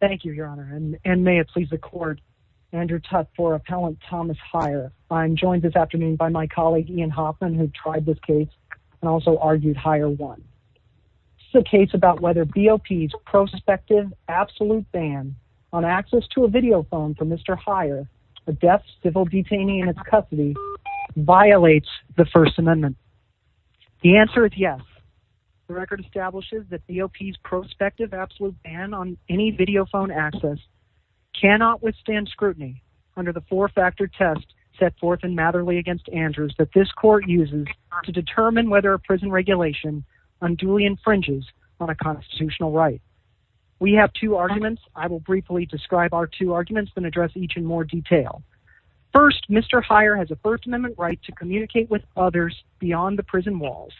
Thank you your honor and may it please the court Andrew Tutte for appellant Thomas Heyer. I'm joined this afternoon by my colleague Ian Hoffman who tried this case and also argued Heyer won. This is a case about whether BOP's prospective absolute ban on access to a video phone from Mr. Heyer, a deaf civil detainee in his custody, violates the first amendment. The answer is yes. The record establishes that BOP's prospective absolute ban on any video phone access cannot withstand scrutiny under the four-factor test set forth in Matherly against Andrews that this court uses to determine whether a prison regulation unduly infringes on a constitutional right. We have two arguments. I will briefly describe our two arguments and address each in more detail. First, Mr. Heyer has a first amendment right to communicate with others beyond the prison walls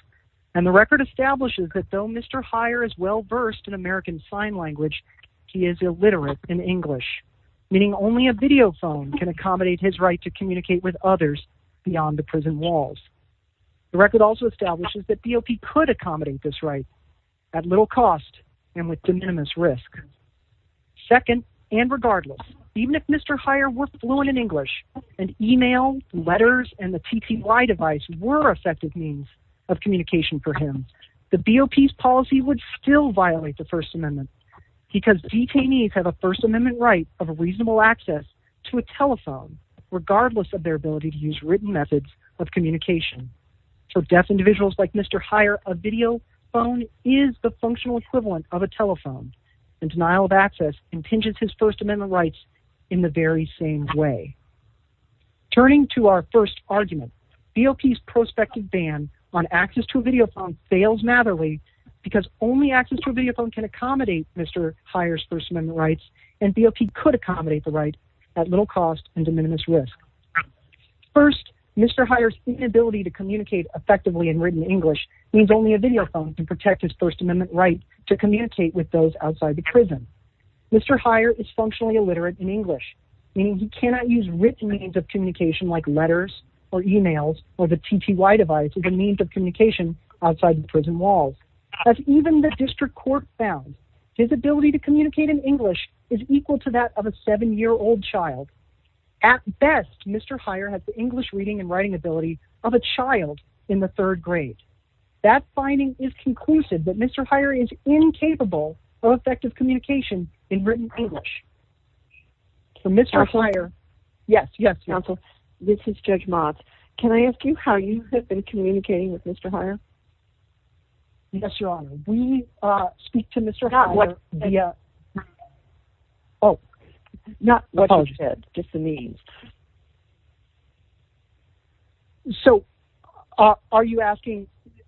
and the record establishes that though Mr. Heyer is well versed in American Sign Language he is illiterate in English meaning only a video phone can accommodate his right to communicate with others beyond the prison walls. The record also establishes that BOP could accommodate this right at little cost and with de minimis risk. Second, and regardless even if Mr. Heyer were fluent in English and email, letters, and the TTY device were effective means of communication for him, the BOP's policy would still violate the first amendment because detainees have a first amendment right of a reasonable access to a telephone regardless of their ability to use written methods of communication. For deaf individuals like Mr. Heyer a video phone is the functional equivalent of a telephone and denial of access impinges his first amendment rights in the very same way. Turning to our first argument, BOP's prospective ban on access to a video phone fails madly because only access to a video phone can accommodate Mr. Heyer's first amendment rights and BOP could accommodate the right at little cost and de minimis risk. First, Mr. Heyer's inability to communicate effectively in written English means only a video phone can protect his first amendment right to communicate with those outside the prison. Mr. Heyer is functionally illiterate in English, meaning he cannot use written means of communication like letters or emails or the TTY device as a means of communication outside the prison walls. As even the district court found, his ability to communicate in English is equal to that of a seven-year-old child. At best, Mr. Heyer has the English reading and writing ability of a child in the third grade. That finding is conclusive that Mr. Heyer is written English.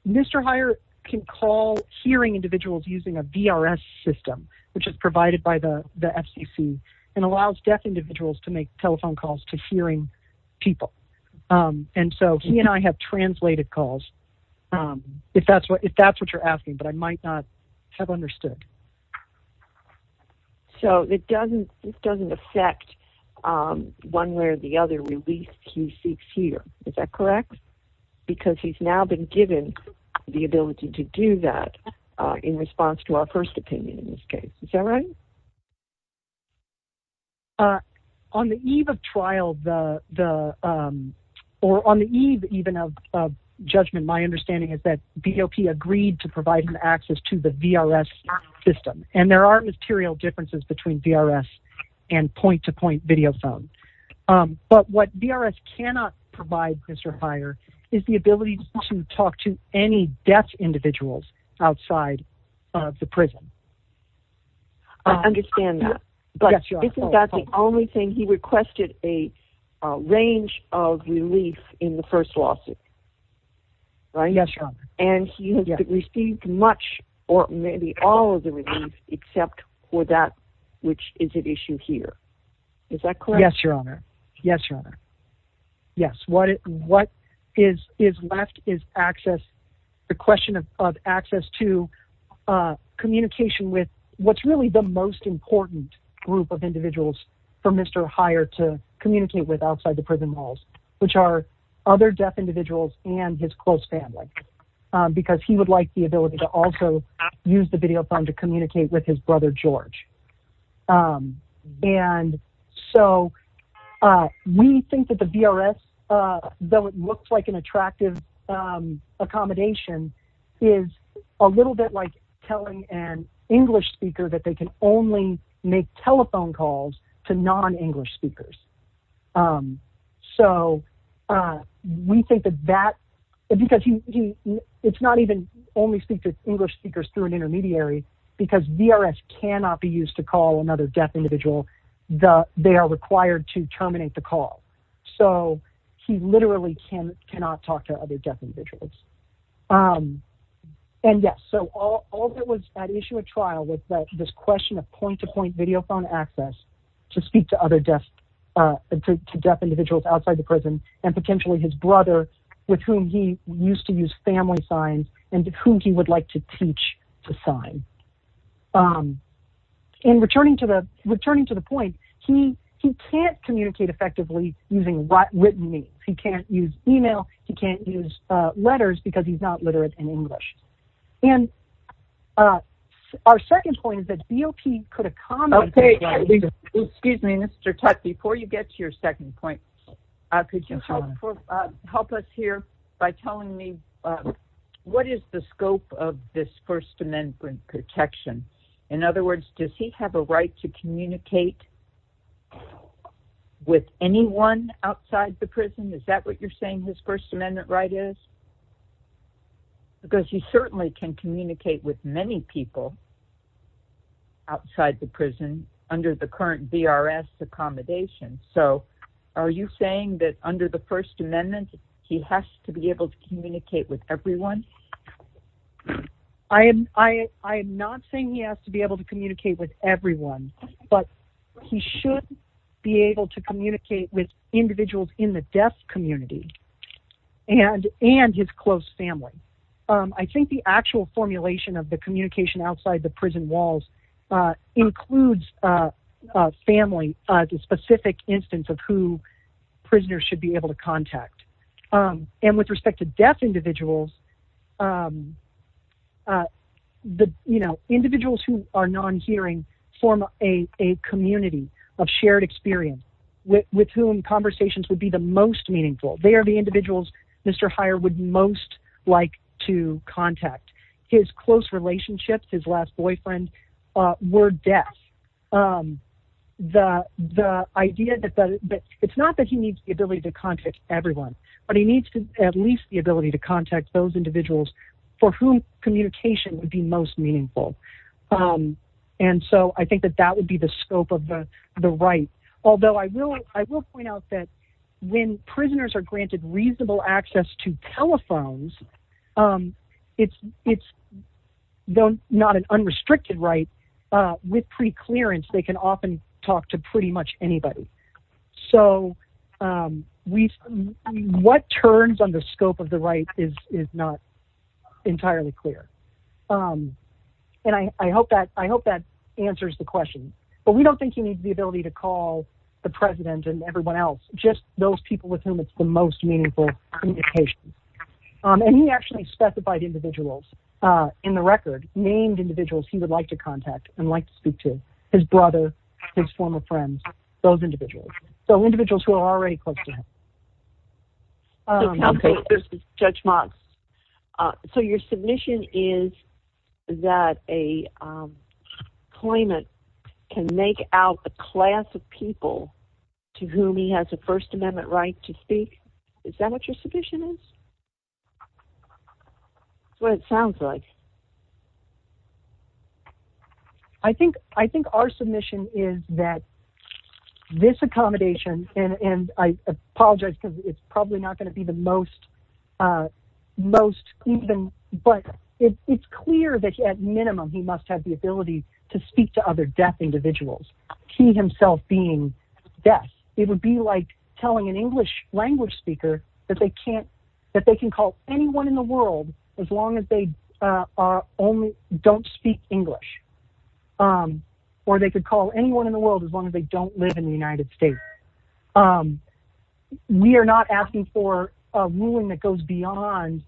Mr. Heyer can call hearing individuals using a VRS system. It's provided by the FCC and allows deaf individuals to make telephone calls to hearing people. He and I have translated calls, if that's what you're asking, but I might not have understood. So it doesn't affect one way or the other release he seeks here, is that correct? Because he's now been given the ability to do that in response to our first opinion in this case, is that right? On the eve of trial, or on the eve even of judgment, my understanding is that BOP agreed to provide him access to the VRS system. And there are material differences between VRS and point-to-point video phone. But what VRS cannot provide Mr. Heyer is the ability to talk to any deaf individuals outside of the prison. I understand that, but isn't that the only thing? He requested a range of relief in the first lawsuit, right? And he has received much or maybe all of the relief except for that which is an issue here. Is that correct? Yes, your honor. Yes, your honor. Yes. What is left is access, the question of access to communication with what's really the most important group of individuals for Mr. Heyer to communicate with outside the prison walls, which are other deaf individuals and his close family. Because he would like the ability to also use the video phone to communicate with his brother, George. And so we think that the VRS, though it looks like an attractive accommodation, is a little bit like telling an English speaker that they can only make telephone calls to non-English speakers. So we think that that, because it's not even only speak to English speakers through an intermediary, because VRS cannot be used to call another deaf individual, they are required to terminate the call. So he literally cannot talk to other deaf individuals. And yes, so all that was at issue at trial was this question of point-to-point video phone access to speak to deaf individuals outside the prison and potentially his brother with whom he used to talk. And returning to the point, he can't communicate effectively using written means. He can't use email. He can't use letters because he's not literate in English. And our second point is that BOP could accommodate... Okay. Excuse me, Mr. Tutte, before you get to your second point, could you help us here by telling me what is the scope of this First Amendment protection? In other words, does he have a right to communicate with anyone outside the prison? Is that what you're saying his First Amendment right is? Because he certainly can communicate with many people outside the prison under the current VRS accommodation. So are you saying that under the First Amendment, he has to be able to communicate with everyone? I am not saying he has to be able to communicate with everyone, but he should be able to communicate with individuals in the deaf community and his close family. I think the actual formulation of the communication outside the prison walls includes family, the specific instance of who prisoners should be able to contact. And with respect to deaf individuals, individuals who are non-hearing form a community of shared experience with whom conversations would be the most meaningful. They are the individuals Mr. Heyer would most like to contact. His close relationships, his last boyfriend were deaf. It's not that he needs the ability to contact everyone, but he needs at least the ability to contact those individuals for whom communication would be most meaningful. And so I think that that would be the scope of the right. Although I will point out that when prisoners are granted reasonable access to telephones, it's not an unrestricted right. With preclearance, they can often talk to pretty much anybody. So what turns on the scope of the right is not entirely clear. And I hope that answers the question, but we don't think he needs the president and everyone else. Just those people with whom it's the most meaningful communication. And he actually specified individuals in the record, named individuals he would like to contact and like to speak to. His brother, his former friends, those individuals. So individuals who are already close to him. So your submission is that a claimant can make out a class of people to whom he has a first amendment right to speak. Is that what your submission is? That's what it sounds like. I think our submission is that this accommodation and I apologize because it's probably not going to be the most, but it's clear that at minimum, he must have the ability to speak to other individuals. He himself being deaf, it would be like telling an English language speaker that they can call anyone in the world as long as they don't speak English. Or they could call anyone in the world as long as they don't live in the United States. We are not asking for a ruling that goes beyond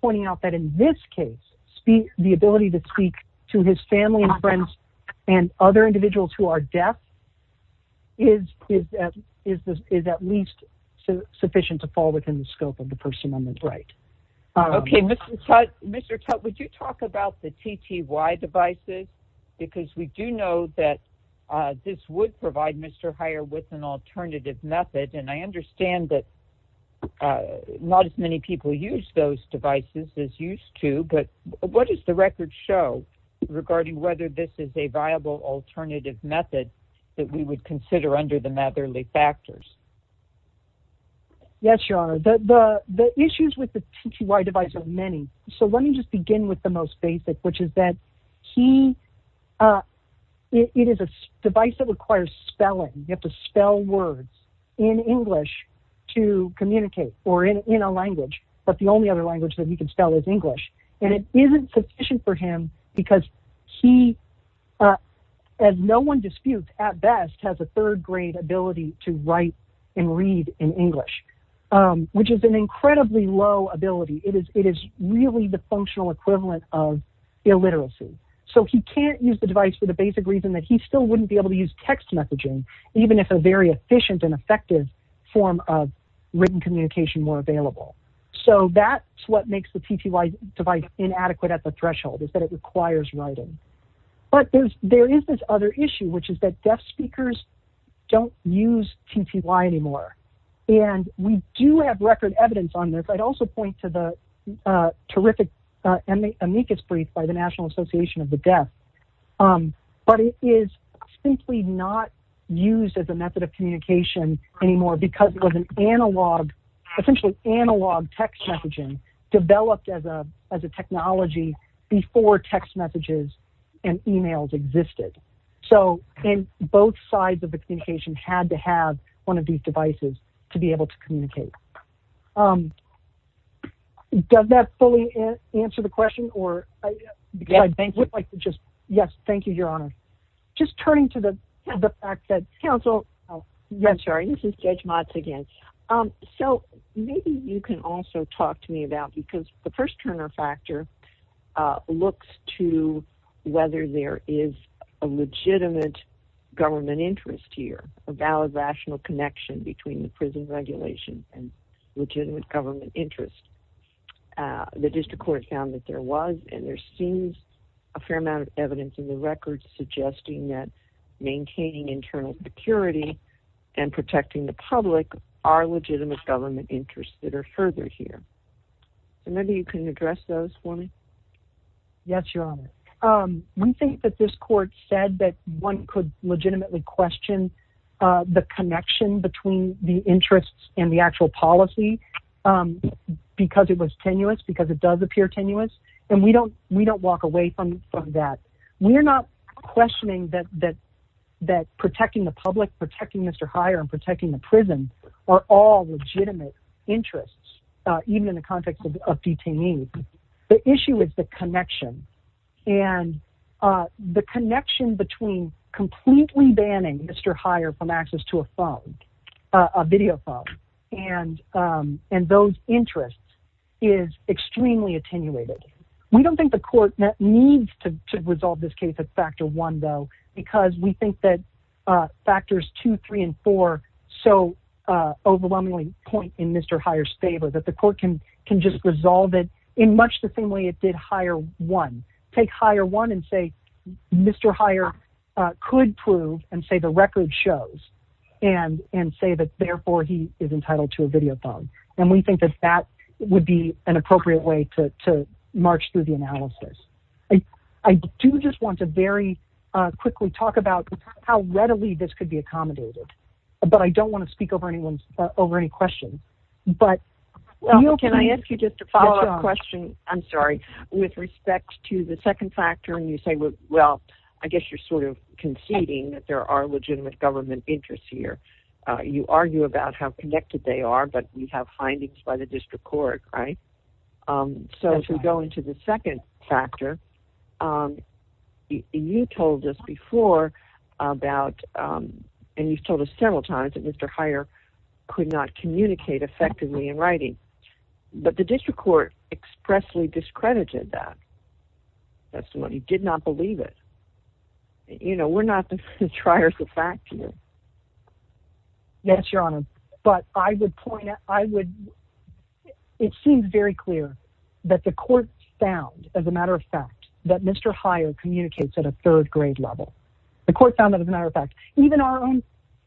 pointing out that in this case, the ability to speak to his family and friends and other individuals who are deaf is at least sufficient to fall within the scope of the person on the right. Okay. Mr. Tutte, would you talk about the TTY devices? Because we do know that this would provide Mr. Heyer with an alternative method. And I understand that not as many people use those devices as used to, but what does the record show regarding whether this is a viable alternative method that we would consider under the Matherly factors? Yes, your honor. The issues with the TTY device are many. So let me just begin with the most basic, which is that it is a device that requires spelling. You have to spell words in English to communicate or in a language, but the only other language that he can spell is English. And it isn't sufficient for him because he, as no one disputes at best, has a third grade ability to write and read in English, which is an incredibly low ability. It is really the functional equivalent of illiteracy. So he can't use the device for the basic reason that he still effective form of written communication more available. So that's what makes the TTY device inadequate at the threshold is that it requires writing. But there is this other issue, which is that deaf speakers don't use TTY anymore. And we do have record evidence on there, but I'd also point to the terrific amicus brief by the National Association of the Deaf. But it is simply not used as a method of communication anymore because it was an analog, essentially analog text messaging developed as a technology before text messages and emails existed. So in both sides of the communication had to have one of these devices to be able to communicate. Does that fully answer the question? Yes, thank you, your honor. Just turning to the fact that counsel, I'm sorry, this is Judge Motz again. So maybe you can also talk to me about because the first Turner factor looks to whether there is a legitimate government interest here, a valid rational connection between the prison regulation and legitimate government interest. The district court found that there was, and there seems a fair amount of evidence in the records suggesting that maintaining internal security and protecting the public are legitimate government interests that are further here. And maybe you can address those for me. Yes, your honor. We think that this court said that one could legitimately question the connection between the interests and the actual policy because it was tenuous, because it does appear tenuous. And we don't walk away from that. We're not questioning that protecting the public, protecting Mr. Hire and protecting the prison are all legitimate interests, even in the context of detainees. The issue is the connection and the connection between completely banning Mr. Hire from access to a phone, a video phone. And those interests is extremely attenuated. We don't think the court needs to resolve this case at factor one, though, because we think that factors two, three, and four, so overwhelmingly point in Mr. Hire's favor that the court can just resolve it in much the same way it did hire one, take hire one and say, Mr. Hire could prove and say the record shows and say that therefore he is entitled to a video phone. And we think that that would be an appropriate way to march through the analysis. I do just want to very quickly talk about how readily this could be accommodated, but I don't want to speak over anyone's over any questions. But can I ask you just a follow up question? I'm sorry. With respect to the second factor, and you say, well, I guess you're sort of conceding that there are legitimate government interests here. You argue about how connected they are, but we have findings by the district court, right? So if we go into the second factor, you told us before about, and you've told us several times that Mr. Hire could not communicate effectively in writing, but the district court expressly discredited that. That's the one he did not believe it. You know, we're not the fact. Yes, your honor. But I would point out, I would, it seems very clear that the court found as a matter of fact, that Mr. Hire communicates at a third grade level. The court found that as a matter of fact, even our own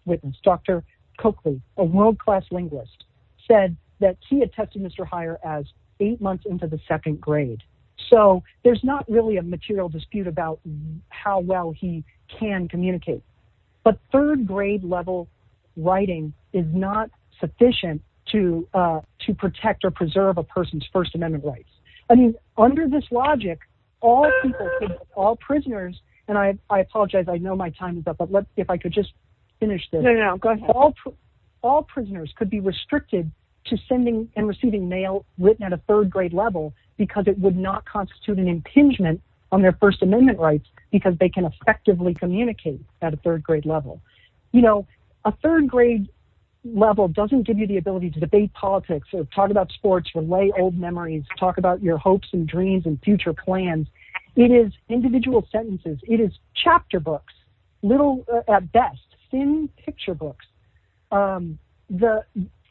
witness, Dr. Coakley, a world-class linguist said that he had tested Mr. Hire as eight months into the second grade. So there's not really a material dispute about how well he can communicate, but third grade level writing is not sufficient to, to protect or preserve a person's first amendment rights. I mean, under this logic, all people, all prisoners, and I, I apologize. I know my time is up, but let's see if I could just finish this. All prisoners could be restricted to sending and receiving mail written at a third grade level because it would not constitute an impingement on their first amendment rights because they can effectively communicate at a third grade level. You know, a third grade level doesn't give you the ability to debate politics or talk about sports or lay old memories, talk about your hopes and dreams and future plans. It is individual sentences. It is chapter books, little at best, thin picture books. The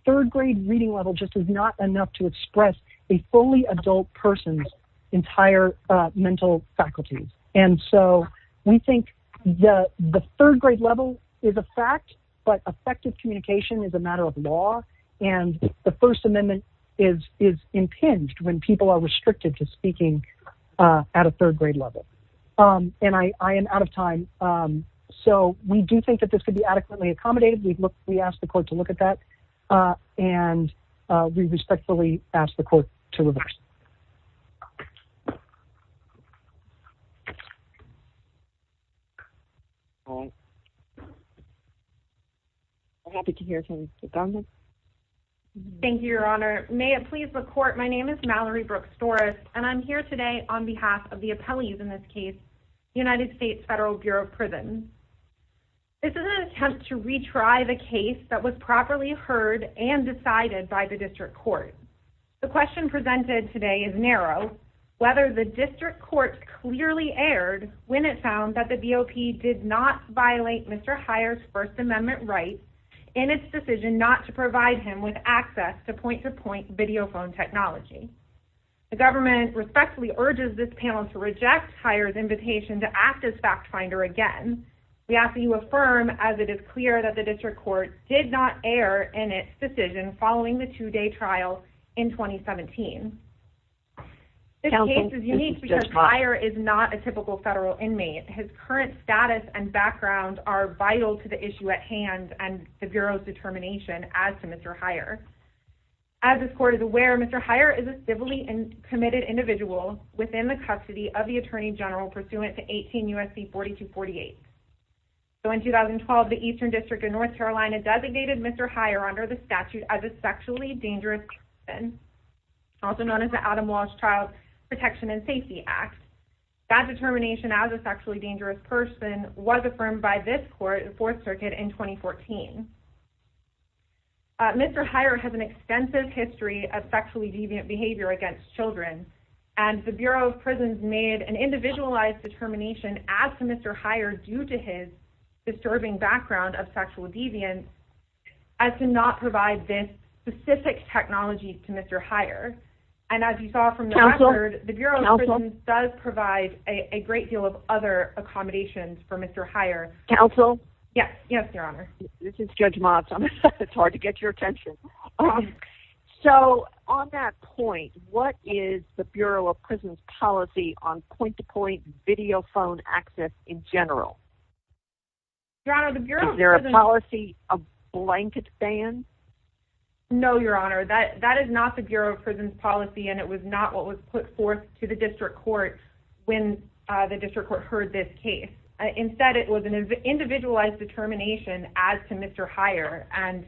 third grade reading level just is not enough to express a fully adult person's entire mental faculties. And so we think the, the third grade level is a fact, but effective communication is a matter of law. And the first amendment is, is impinged when people are restricted to speaking at a third grade level. And I, I am out of time. So we do think that this could be adequately accommodated. We look, we ask the court to look at that and we respectfully ask the court to reverse. I'm happy to hear from you. Thank you, your honor. May it please the court. My name is Mallory Brooks Doris, and I'm here today on behalf of the appellees in this case, United States Federal Bureau of Prisons. This is an attempt to retry the case that was properly heard and decided by the district court. The question presented today is narrow, whether the district court clearly aired when it found that the BOP did not violate Mr. Hyer's first amendment rights in its decision not to provide him with access to point to point technology. The government respectfully urges this panel to reject Hyer's invitation to act as fact finder. Again, we ask that you affirm as it is clear that the district court did not air in its decision following the two day trial in 2017. This case is unique because Hyer is not a typical federal inmate. His current status and background are vital to the issue at hand and the bureau's determination as to Mr. Hyer. As this court is aware, Mr. Hyer is a civilly committed individual within the custody of the attorney general pursuant to 18 U.S.C. 4248. So in 2012, the Eastern District of North Carolina designated Mr. Hyer under the statute as a sexually dangerous person, also known as the Adam Walsh Child Protection and Safety Act. That determination as a sexually dangerous person was affirmed by this court in Fourth Amendment. Mr. Hyer has an extensive history of sexually deviant behavior against children and the Bureau of Prisons made an individualized determination as to Mr. Hyer due to his disturbing background of sexual deviance as to not provide this specific technology to Mr. Hyer. And as you saw from the record, the Bureau of Prisons does provide a great deal of other information. So on that point, what is the Bureau of Prisons policy on point-to-point video phone access in general? Is there a policy of blanket ban? No, Your Honor. That is not the Bureau of Prisons policy and it was not what was put forth to the district court when the district court heard this case. Instead, it was an individualized determination as to Mr. Hyer. And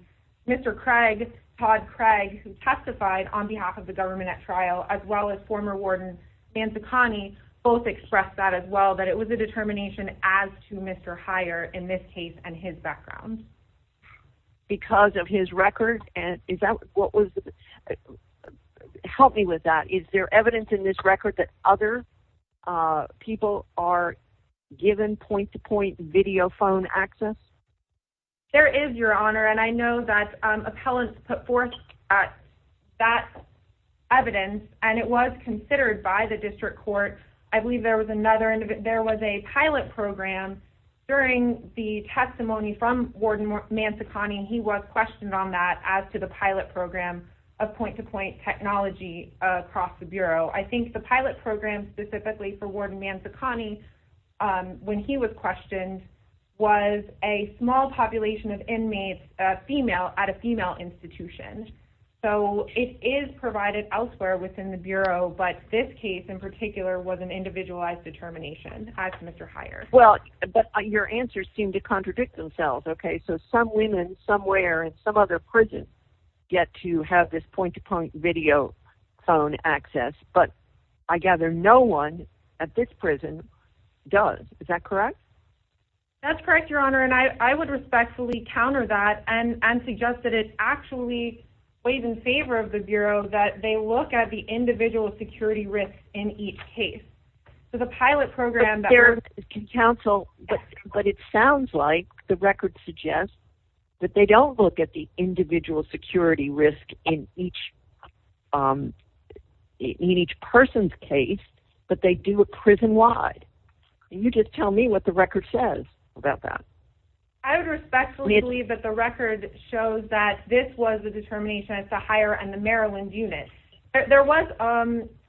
Mr. Craig, Todd Craig, who testified on behalf of the government at trial, as well as former warden Nancy Connie, both expressed that as well, that it was a determination as to Mr. Hyer in this case and his background. Because of his record? And is that what was... Help me with that. Is there evidence in this There is, Your Honor. And I know that appellants put forth that evidence and it was considered by the district court. I believe there was another... There was a pilot program during the testimony from warden Nancy Connie. He was questioned on that as to the pilot program of point-to-point technology across the Bureau. I think the pilot program specifically for warden Nancy Connie, when he was questioned, was a small population of inmates at a female institution. So it is provided elsewhere within the Bureau, but this case in particular was an individualized determination as to Mr. Hyer. Well, but your answers seem to contradict themselves, okay? So some women somewhere in some other prison get to have this point-to-point video phone access, but I gather no one at this prison does. Is that correct? That's correct, Your Honor. And I would respectfully counter that and suggest that it actually weighs in favor of the Bureau that they look at the individual security risk in each case. So the pilot program... But it sounds like the record suggests that they don't look at the individual security risk in each person's case, but they do a prison-wide. You just tell me what the record says about that. I would respectfully believe that the record shows that this was the determination as to Hyer and the Maryland unit. There was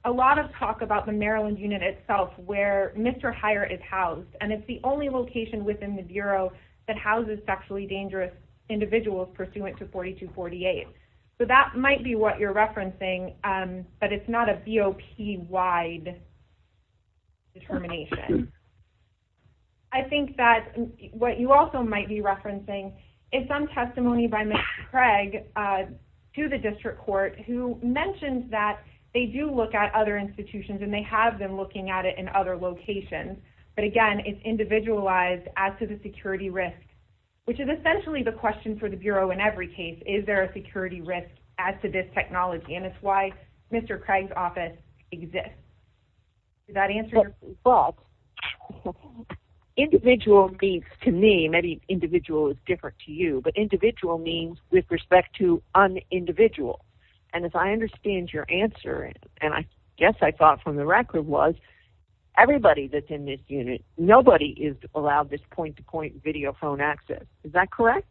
a lot of talk about the Maryland unit itself where Mr. Hyer is housed, and it's the only location within the Bureau that houses sexually dangerous individuals pursuant to 4248. So that might be what you're referencing, but it's not a BOP-wide determination. I think that what you also might be referencing is some testimony by Mr. Craig to the District Court who mentioned that they do look at other institutions, and they have been looking at it in other locations. But again, it's individualized as to the security risk, which is essentially the question for the Bureau in every case. Is there a security risk as to this technology? And it's why Mr. Craig's office exists. Does that answer your question? Well, individual means to me, maybe individual is different to you, but individual means with respect to un-individual. And as I understand your answer, and I guess I thought from the record was everybody that's in this unit, nobody is allowed this point-to-point video phone access. Is that fair?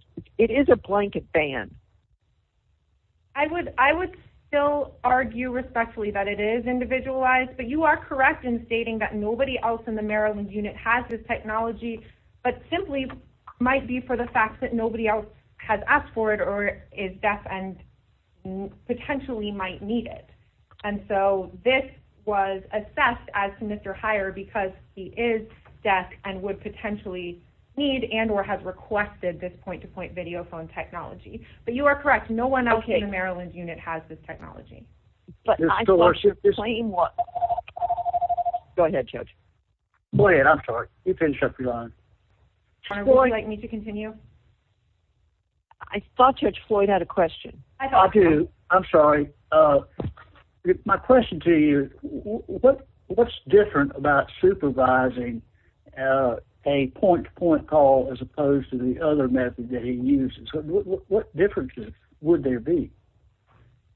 I would still argue respectfully that it is individualized, but you are correct in stating that nobody else in the Maryland unit has this technology, but simply might be for the fact that nobody else has asked for it or is deaf and potentially might need it. And so this was assessed as to Mr. Heyer because he is deaf and would potentially need and or has requested this point-to-point video phone technology, but you are correct. No one else in the Maryland unit has this technology. But I thought you were saying what... Go ahead, Judge. Go ahead, I'm sorry. You can shut your mouth. Would you like me to continue? I thought Judge Floyd had a question. I do. I'm sorry. My question to you, what's different about supervising a point-to-point call as opposed to the other method that he uses? What differences would there be?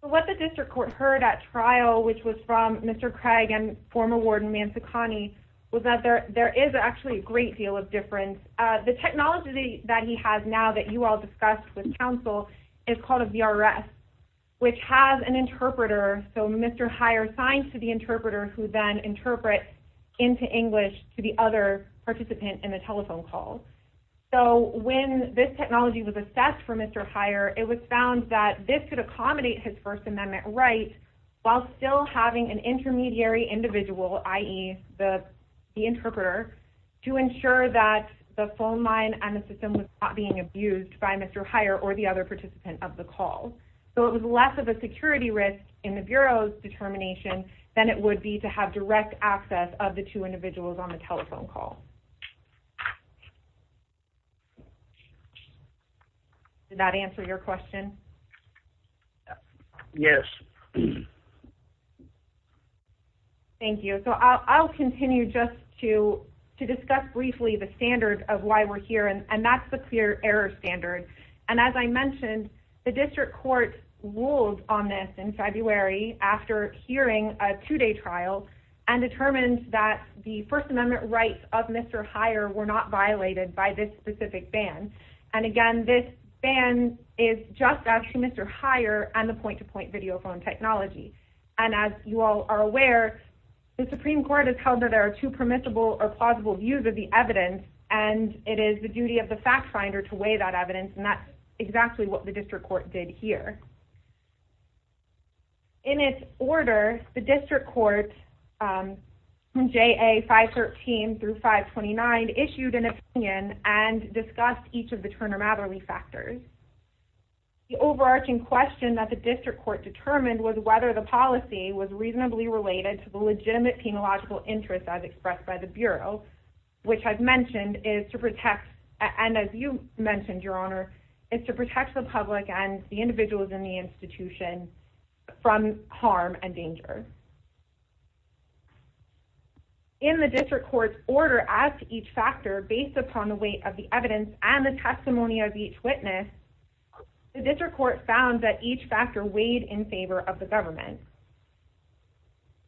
So what the district court heard at trial, which was from Mr. Craig and former Warden Mansakhani, was that there is actually a great deal of difference. The technology that he has now that you all discussed with counsel is called a VRS, which has an interpreter. So Mr. Heyer signs to the interpreter who then interprets into English to the other participant in the telephone call. So when this technology was assessed for Mr. Heyer, it was found that this could accommodate his First Amendment right while still having an intermediary individual, i.e. the interpreter, to ensure that the phone line and the system was not being abused by Mr. Heyer or the other than it would be to have direct access of the two individuals on the telephone call. Did that answer your question? Yes. Thank you. So I'll continue just to discuss briefly the standards of why we're here, and that's the clear error standard. And as I mentioned, the district court ruled on this in a two-day trial and determined that the First Amendment rights of Mr. Heyer were not violated by this specific ban. And again, this ban is just actually Mr. Heyer and the point-to-point video phone technology. And as you all are aware, the Supreme Court has held that there are two permissible or plausible views of the evidence, and it is the duty of the fact finder to weigh that evidence, and that's exactly what the district court did here. In its order, the district court, JA 513 through 529, issued an opinion and discussed each of the Turner-Matherly factors. The overarching question that the district court determined was whether the policy was reasonably related to the legitimate penological interest as expressed by the Bureau, which I've mentioned is to protect, and as you mentioned, Your Honor, is to protect the public and the individuals in the institution from harm and danger. In the district court's order as to each factor based upon the weight of the evidence and the testimony of each witness, the district court found that each factor weighed in favor of the government.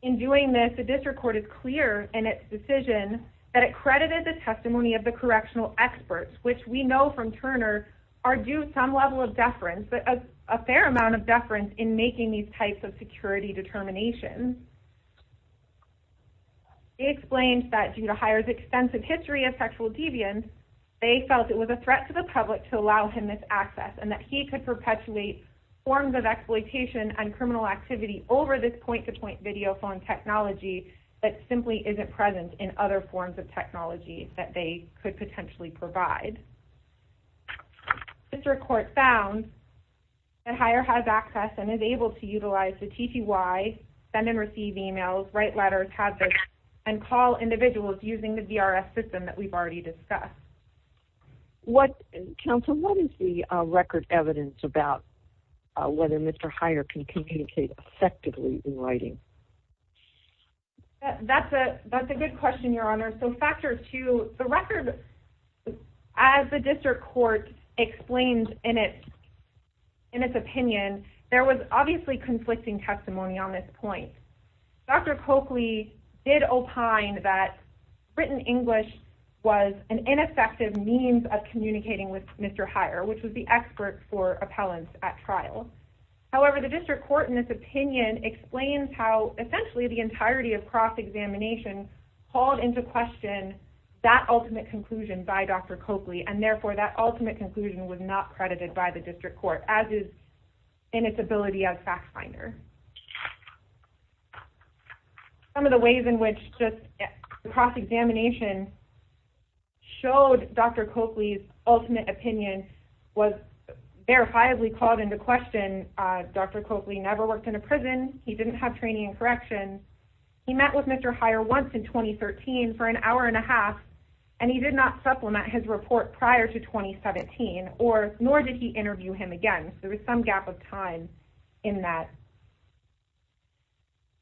In doing this, the district court is clear in its decision that it credited the testimony of correctional experts, which we know from Turner are due some level of deference, but a fair amount of deference in making these types of security determinations. It explains that due to Hirer's extensive history of sexual deviance, they felt it was a threat to the public to allow him this access, and that he could perpetuate forms of exploitation and criminal activity over this point-to-point video phone technology that simply isn't present in other forms of technology that they could potentially provide. The district court found that Hirer has access and is able to utilize the TTY, send and receive emails, write letters, and call individuals using the VRS system that we've already discussed. Counsel, what is the record evidence about whether Mr. Hirer can communicate effectively in writing? That's a good question, Your Honor. So, factor two, the record, as the district court explains in its opinion, there was obviously conflicting testimony on this point. Dr. Coakley did opine that written English was an ineffective means of communicating with Mr. Hirer, which was the expert for appellants at trial. However, the district court in this opinion explains how essentially the entirety of cross-examination called into question that ultimate conclusion by Dr. Coakley, and therefore that ultimate conclusion was not credited by the district court, as is in its ability as fact finder. Some of the ways in which just cross-examination showed Dr. Coakley's ultimate opinion was verifiably called into question. Dr. Coakley never worked in a prison. He didn't have training in corrections. He met with Mr. Hirer once in 2013 for an hour and a half, and he did not supplement his report prior to 2017, nor did he interview him again. There was some gap of time in that.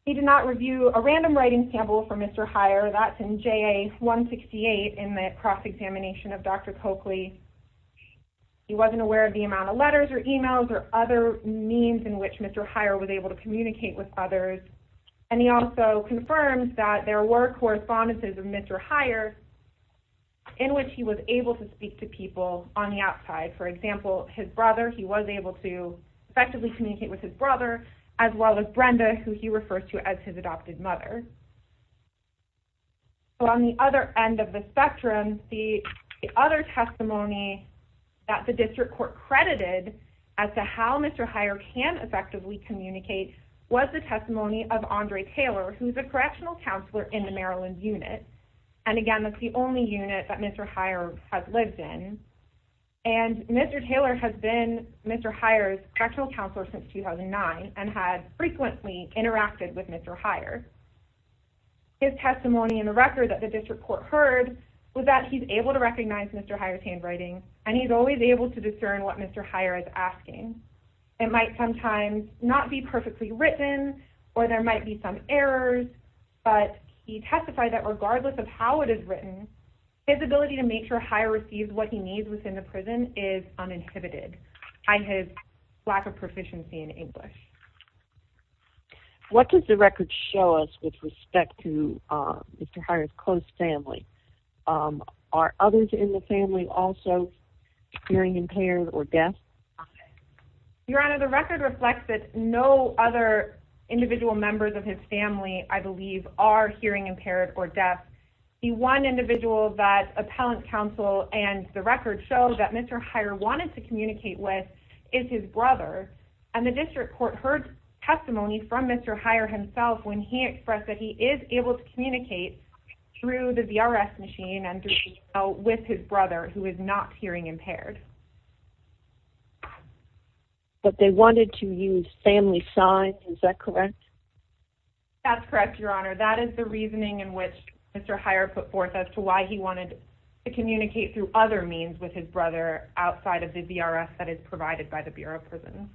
He did not review a random writing sample for Mr. Hirer. That's in JA-168 in the cross-examination of Dr. Coakley. He wasn't aware of the amount of letters or emails or other means in which Mr. Hirer was able to communicate with others, and he also confirmed that there were correspondences of Mr. Hirer in which he was able to speak to people on the outside. For example, his brother, he was able to effectively communicate with his brother, as well as Brenda, who he refers to as his adopted mother. On the other end of the spectrum, the other testimony that the district court credited as to how Mr. Hirer can effectively communicate was the testimony of Andre Taylor, who is a correctional counselor in the Maryland unit. And again, that's the only unit that Mr. Hirer has lived in. And Mr. Taylor has been Mr. Hirer's correctional counselor since 2009 and had frequently interacted with Mr. Hirer. His testimony in the record that the district court heard was that he's able to recognize Mr. Hirer's handwriting, and he's always able to discern what Mr. Hirer is asking. It might sometimes not be perfectly written, or there might be some errors, but he testified that regardless of how it is written, his ability to make sure Hirer receives what he needs within the prison is uninhibited by his lack of proficiency in English. What does the record show us with respect to Mr. Hirer's close family? Are others in the family also hearing impaired or deaf? Your Honor, the record reflects that no other individual members of his family, I believe, are hearing impaired or deaf. The one individual that appellant counsel and the record show that Mr. Hirer wanted to communicate with is his brother, and the district court heard testimony from Mr. Hirer himself when he expressed that he is able to communicate through the VRS machine and through email with his brother, who is not hearing impaired. But they wanted to use family signs, is that correct? That's correct, Your Honor. That is the reasoning in which Mr. Hirer put forth as to why he wanted to communicate through other means with his brother outside of the VRS that is provided by the Bureau of Prisons.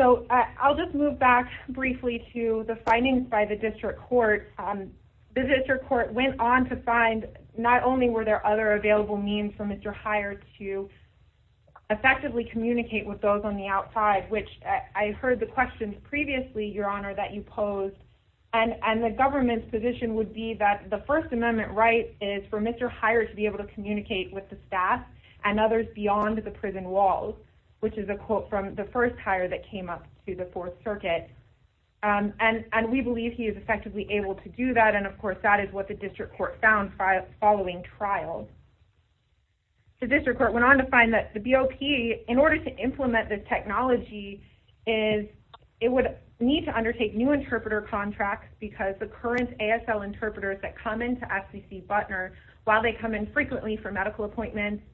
So I'll just move back briefly to the findings by the district court. The district court went on to find not only were there other available means for Mr. Hirer to effectively communicate with those on the outside, which I heard the questions previously, Your Honor, that you posed, and the government's position would be that the First Amendment right is for Mr. Hirer to be able to communicate with the staff and others beyond the prison walls, which is a quote from the first hire that came up through the Fourth Circuit. And we believe he is effectively able to do that, and of course that is what the district court found following trial. The district court went on to find that the BOP, in order to implement this technology, is it would need to undertake new interpreter contracts because the current ASL interpreters that come into FCC Butner, while they come in frequently for medical appointments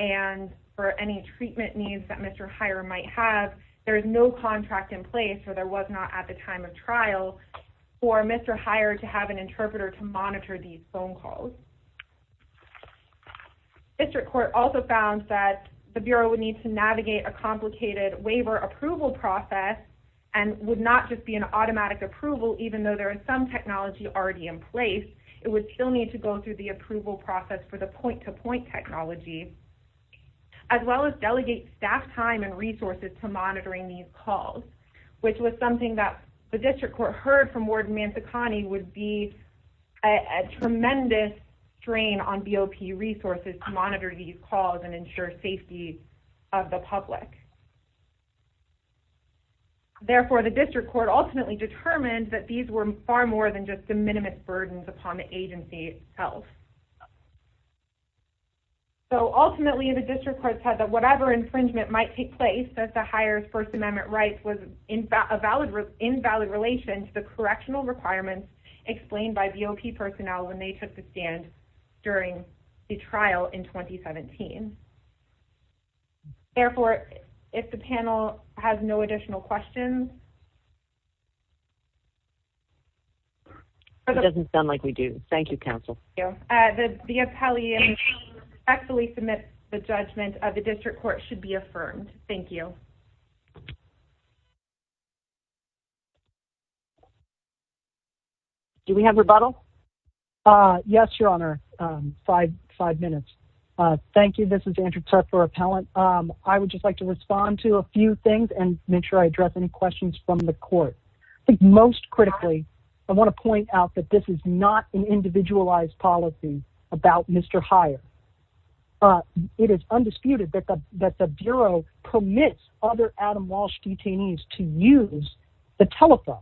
and for any treatment needs that Mr. Hirer might have, there is no contract in place, or there was not at the time of trial, for Mr. Hirer to have an interpreter to monitor these phone calls. The district court also found that the Bureau would need to navigate a complicated waiver approval process and would not just be an automatic approval, even though there is some technology already in place. It would still need to go through the approval process for the point to point technology, as well as delegate staff time and resources to monitoring these calls, which was something that the district court heard from Warden Mantacani would be a tremendous strain on BOP resources to monitor these calls and ensure safety of the public. Therefore, the district court ultimately determined that these were far more than just the minimum burdens upon the agency itself. So ultimately, the district court said that whatever infringement might take place as to Hirer's First Amendment rights was invalid relation to the correctional requirements explained by BOP personnel when they took the stand during the trial in 2017. Therefore, if the panel has no additional questions... It doesn't sound like we do. Thank you, counsel. The appellee respectfully submits the judgment of the district court should be affirmed. Thank you. Do we have rebuttal? Yes, your honor. Five minutes. Thank you. This is Andrew Tuffer Appellant. I would just like to respond to a few things and make sure I address any questions from the court. I think most critically, I want to point out that this is not an individualized policy about Mr. Hirer. It is undisputed that the bureau permits other Adam Walsh detainees to use the telephone.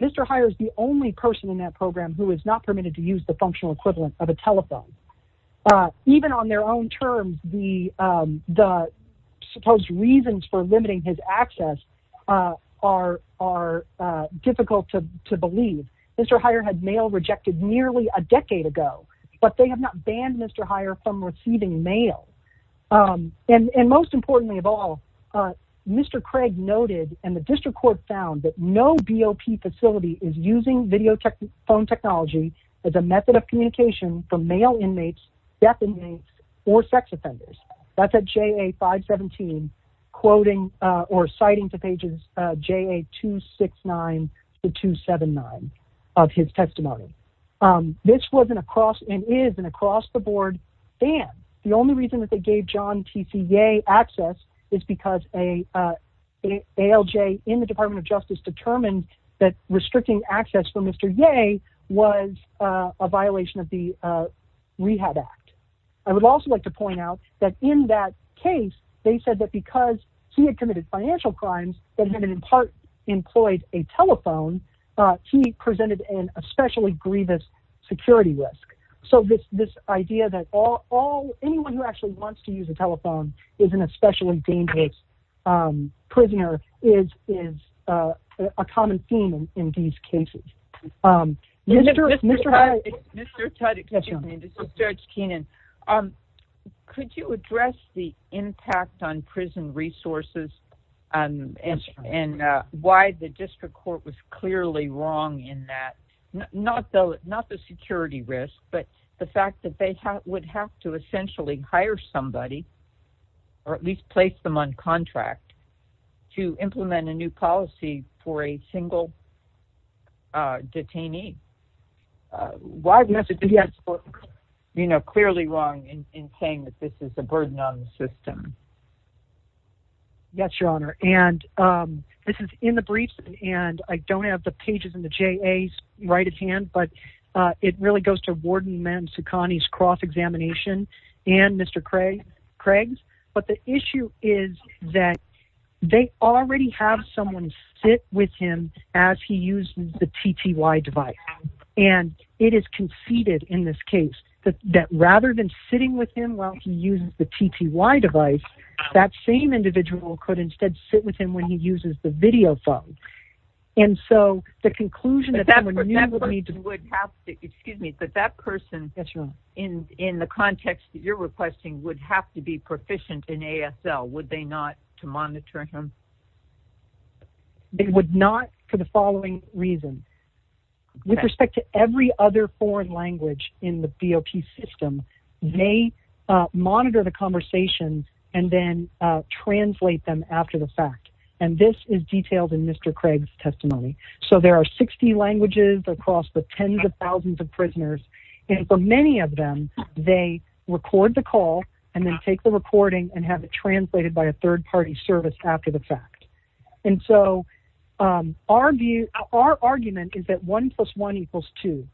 Mr. Hirer is the only person in that program who is not permitted to use the functional equivalent of a telephone. Even on their own terms, the supposed reasons for limiting his They have not banned Mr. Hirer from receiving mail. Most importantly of all, Mr. Craig noted and the district court found that no BOP facility is using video phone technology as a method of communication for male inmates, deaf inmates, or sex offenders. That's at JA 517, citing to pages JA 269 to 279 of his testimony. This was and is an across the board ban. The only reason they gave John T.C. Yeh access is because an ALJ in the Department of Justice determined that restricting access for Mr. Yeh was a violation of the Rehab Act. I would also like to point out that in that employed a telephone, he presented an especially grievous security risk. So this idea that anyone who actually wants to use a telephone is an especially dangerous prisoner is a common theme in these cases. Mr. Tutte, excuse me, this is Judge Keenan. Could you address the impact on why the district court was clearly wrong in that? Not the security risk, but the fact that they would have to essentially hire somebody or at least place them on contract to implement a new policy for a single detainee. Why was the district court clearly wrong in saying that this is a system? Yes, Your Honor. And this is in the briefs and I don't have the pages in the JA's right of hand, but it really goes to Warden Man Sukhani's cross-examination and Mr. Craig's. But the issue is that they already have someone sit with him as he used the TTY device. And it is conceded in this case that rather than sitting with him while he uses the TTY device, that same individual could instead sit with him when he uses the video phone. And so the conclusion that that person in the context that you're requesting would have to be proficient in ASL, would they not to monitor him? They would not for the following reason. With respect to every other foreign language in the BOP system, they monitor the conversations and then translate them after the fact. And this is detailed in Mr. Craig's testimony. So there are 60 languages across the tens of thousands of prisoners. And for many of them, they record the call and then take the recording and have it translated by a third party service after the fact. And so our argument is that one plus one equals two.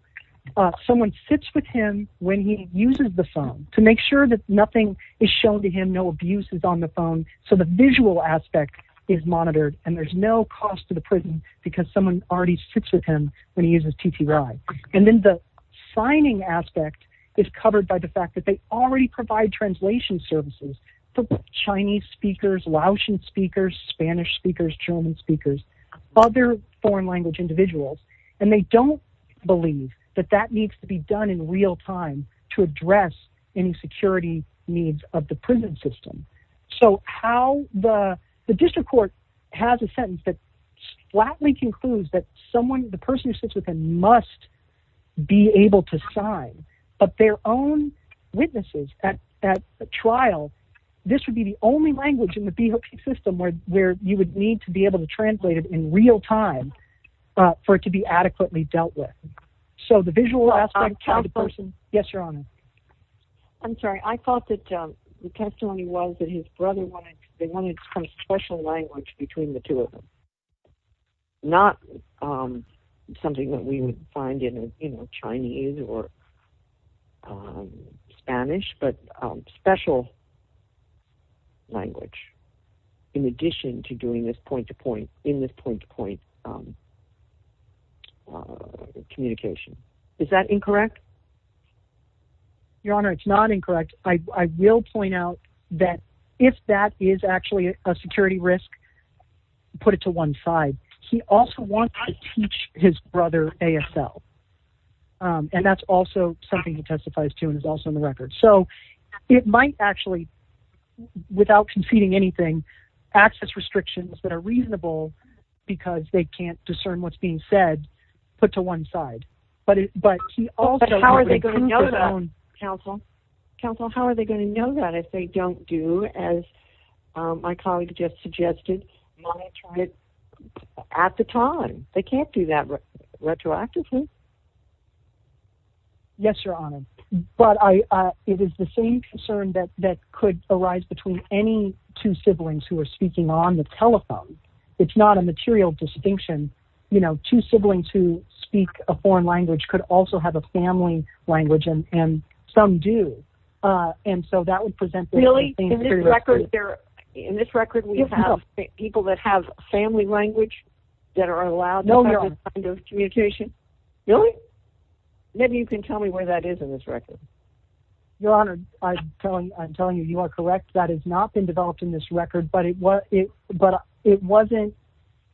Someone sits with him when he uses the phone to make sure that nothing is shown to him, no abuse is on the phone. So the visual aspect is monitored and there's no cost to the prison because someone already sits with him when he uses TTY. And then the signing aspect is covered by the fact that they already provide translation services to Chinese speakers, Laotian speakers, Spanish speakers, German speakers, other foreign language individuals. And they don't believe that that needs to be done in real time to address any security needs of the prison system. So how the district court has a sentence that flatly concludes that the person who sits with him must be able to sign, but their own witnesses at trial, this would be the only language in the system where you would need to be able to translate it in real time for it to be adequately dealt with. So the visual aspect of the person. Yes, your honor. I'm sorry. I thought that the testimony was that his brother wanted they wanted some special language between the two of them. Not something that we would find in Chinese or Spanish, but special language in addition to doing this point to point in this point to point communication. Is that incorrect? Your honor, it's not incorrect. I will point out that if that is actually a security risk, put it to one side. He also wants to teach his brother ASL. And that's also something he testifies to and is also in the record. So it might actually, without conceding anything, access restrictions that are reasonable because they can't discern what's being said, put to one side. But how are they going to know that, counsel? Counsel, how are they going to monitor it at the time? They can't do that retroactively. Yes, your honor. But it is the same concern that could arise between any two siblings who are speaking on the telephone. It's not a material distinction. You know, two siblings who speak a foreign language could also have a family language and some do. And so that would present. Really? In this record, there in this record, we have people that have family language that are allowed no kind of communication. Really? Maybe you can tell me where that is in this record. Your honor, I'm telling you, I'm telling you, you are correct. That has not been developed in this record. But it was it but it wasn't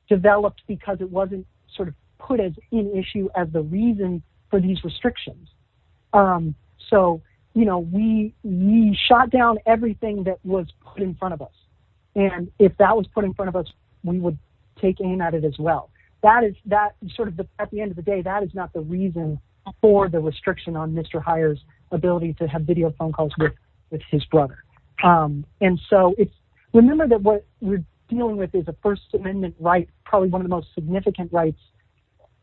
developed because it wasn't sort of put as an issue as the reason for these restrictions. So, you know, we we shot down everything that was put in front of us. And if that was put in front of us, we would take aim at it as well. That is that sort of at the end of the day, that is not the reason for the restriction on Mr. Hires ability to have video phone calls with his brother. And so it's remember that what we're dealing with is a First Rights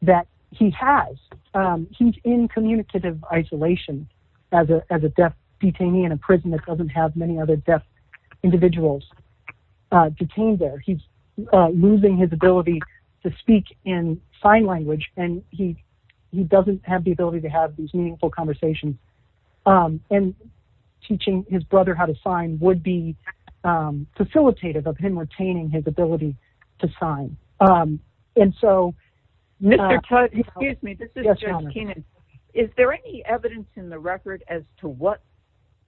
that he has. He's in communicative isolation as a as a deaf detainee in a prison that doesn't have many other deaf individuals detained there. He's losing his ability to speak in sign language and he he doesn't have the ability to have these meaningful conversations and teaching his brother how to sign would be facilitated of him retaining his ability to sign. And so, excuse me, is there any evidence in the record as to what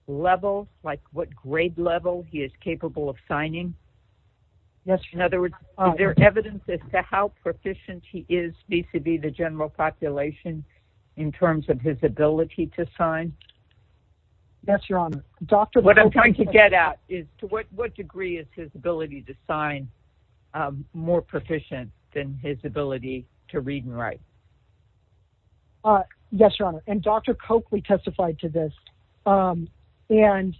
level like what grade level he is capable of signing? Yes. In other words, there are evidences to how proficient he is vis-a-vis the general population in terms of his ability to sign. Yes, Your Honor. Doctor, what I'm trying to get at is to what degree is his ability to sign more proficient than his ability to read and write? Yes, Your Honor. And Dr. Coakley testified to this. And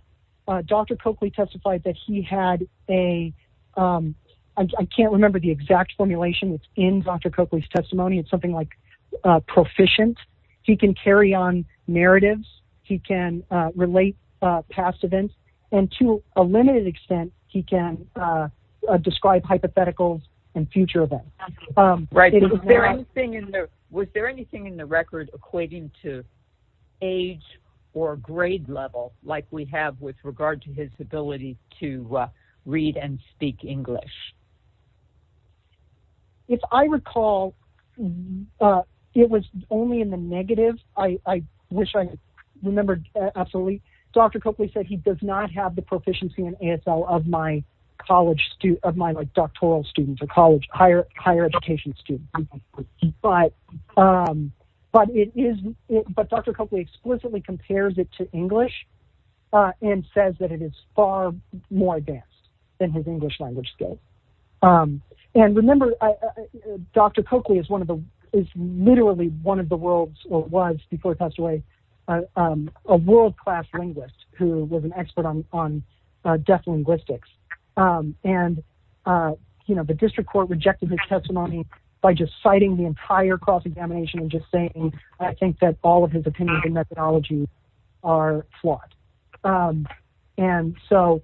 Dr. Coakley testified that he had a I can't remember the exact formulation in Dr. Coakley's testimony. It's something like proficient. He can carry on narratives. He can relate past events. And to a limited extent, he can describe hypotheticals and future events. Was there anything in the record equating to age or grade level like we have with regard to his ability to read and speak English? If I recall, it was only in the negative. I wish I remembered. Absolutely. Dr. Coakley said he does not have the proficiency in ASL of my college, of my doctoral students or college higher education students. But Dr. Coakley explicitly compares it to English and says that it is far more advanced than his English language skills. And remember, Dr. Coakley is literally one of the world's or was before he passed away, a world class linguist who was an expert on deaf linguistics. And the district court rejected his testimony by just citing the entire cross examination and just saying, I think that all of his opinions and methodologies are flawed. And so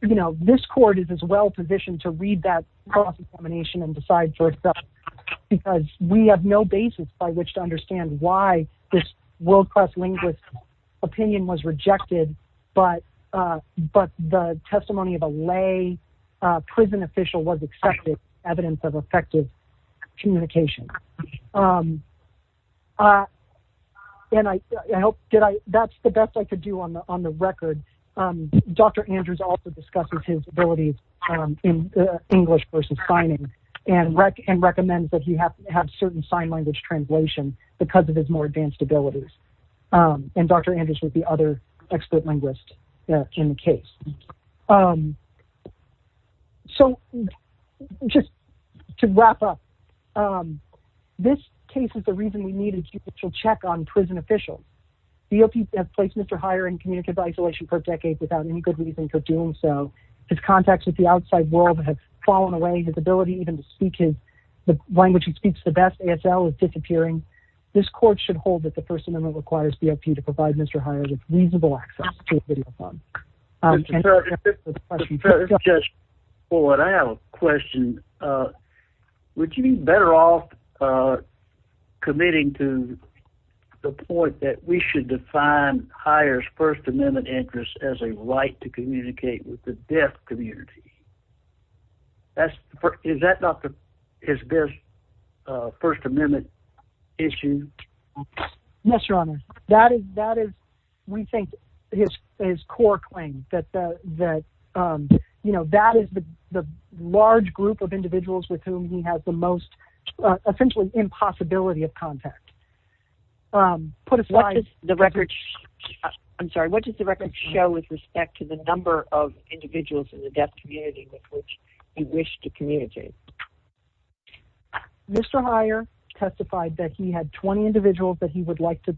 this court is as well positioned to read that cross examination and decide for itself because we have no basis by which to understand why this world class linguist opinion was rejected. But the testimony of a lay prison was accepted evidence of effective communication. And I hope that's the best I could do on the record. Dr. Andrews also discusses his abilities in English versus signing and recommends that he has to have certain sign language translation because of his more advanced abilities. And Dr. Coakley. So just to wrap up, this case is the reason we needed to check on prison officials. BOP has placed Mr. Heyer in community isolation for decades without any good reason for doing so. His contacts with the outside world have fallen away. His ability even to speak his the language he speaks the best, ASL, is disappearing. This court should hold that the First Amendment requires BOP to provide Mr. Heyer with reasonable access to a video phone. Just for what I have a question, would you be better off committing to the point that we should define Heyer's First Amendment interest as a right to communicate with the deaf community? Is that not his best First Amendment issue? Yes, your honor. That is we think his core claim that that is the large group of individuals with whom he has the most essentially impossibility of contact. What does the record show with respect to the number of individuals in the deaf community with which he wished to communicate? Mr. Heyer testified that he had 20 individuals that he would like to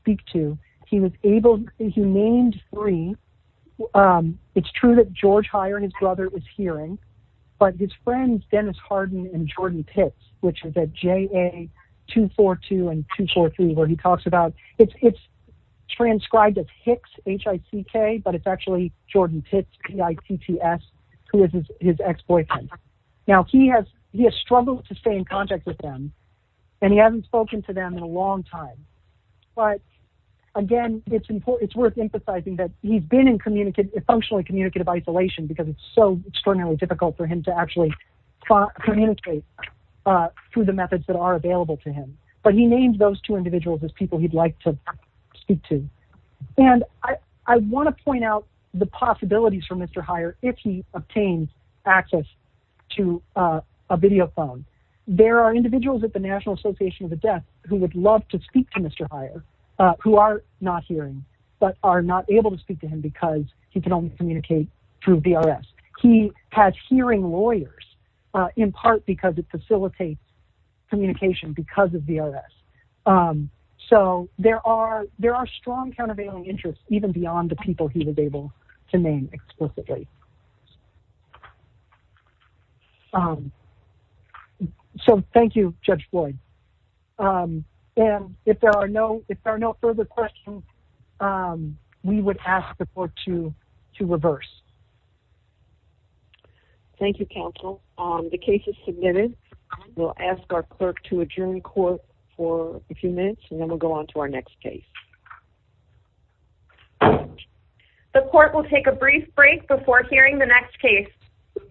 speak to. He was able, he named three. It's true that George Heyer and his brother was hearing, but his friends Dennis Harden and Jordan Pitts, which is at JA242 and 243, where he talks about it's transcribed as Hicks, H-I-C-K, but it's actually Jordan Pitts, P-I-T-T-S, who is his ex-boyfriend. Now he has struggled to stay in contact with them, and he hasn't spoken to them in a long time. But again, it's worth emphasizing that he's been in functionally communicative isolation because it's so extraordinarily difficult for him to actually communicate through the methods that are available to him. But he named those two individuals as people he'd like to speak to. And I want to point out the possibilities for Mr. Heyer if he obtains access to a video phone. There are individuals at the National Association of the Deaf who would love to speak to Mr. Heyer, who are not hearing, but are not able to speak to him because he can only communicate through VRS. He has hearing lawyers in part because it facilitates communication because of VRS. So there are strong countervailing interests even beyond the people he was able to name explicitly. So thank you, Judge Floyd. And if there are no further questions, we would ask the court to reverse. Thank you, counsel. The case is submitted. We'll ask our clerk to adjourn court for a few minutes, and then we'll go on to our next case. The court will take a brief break before hearing the next case.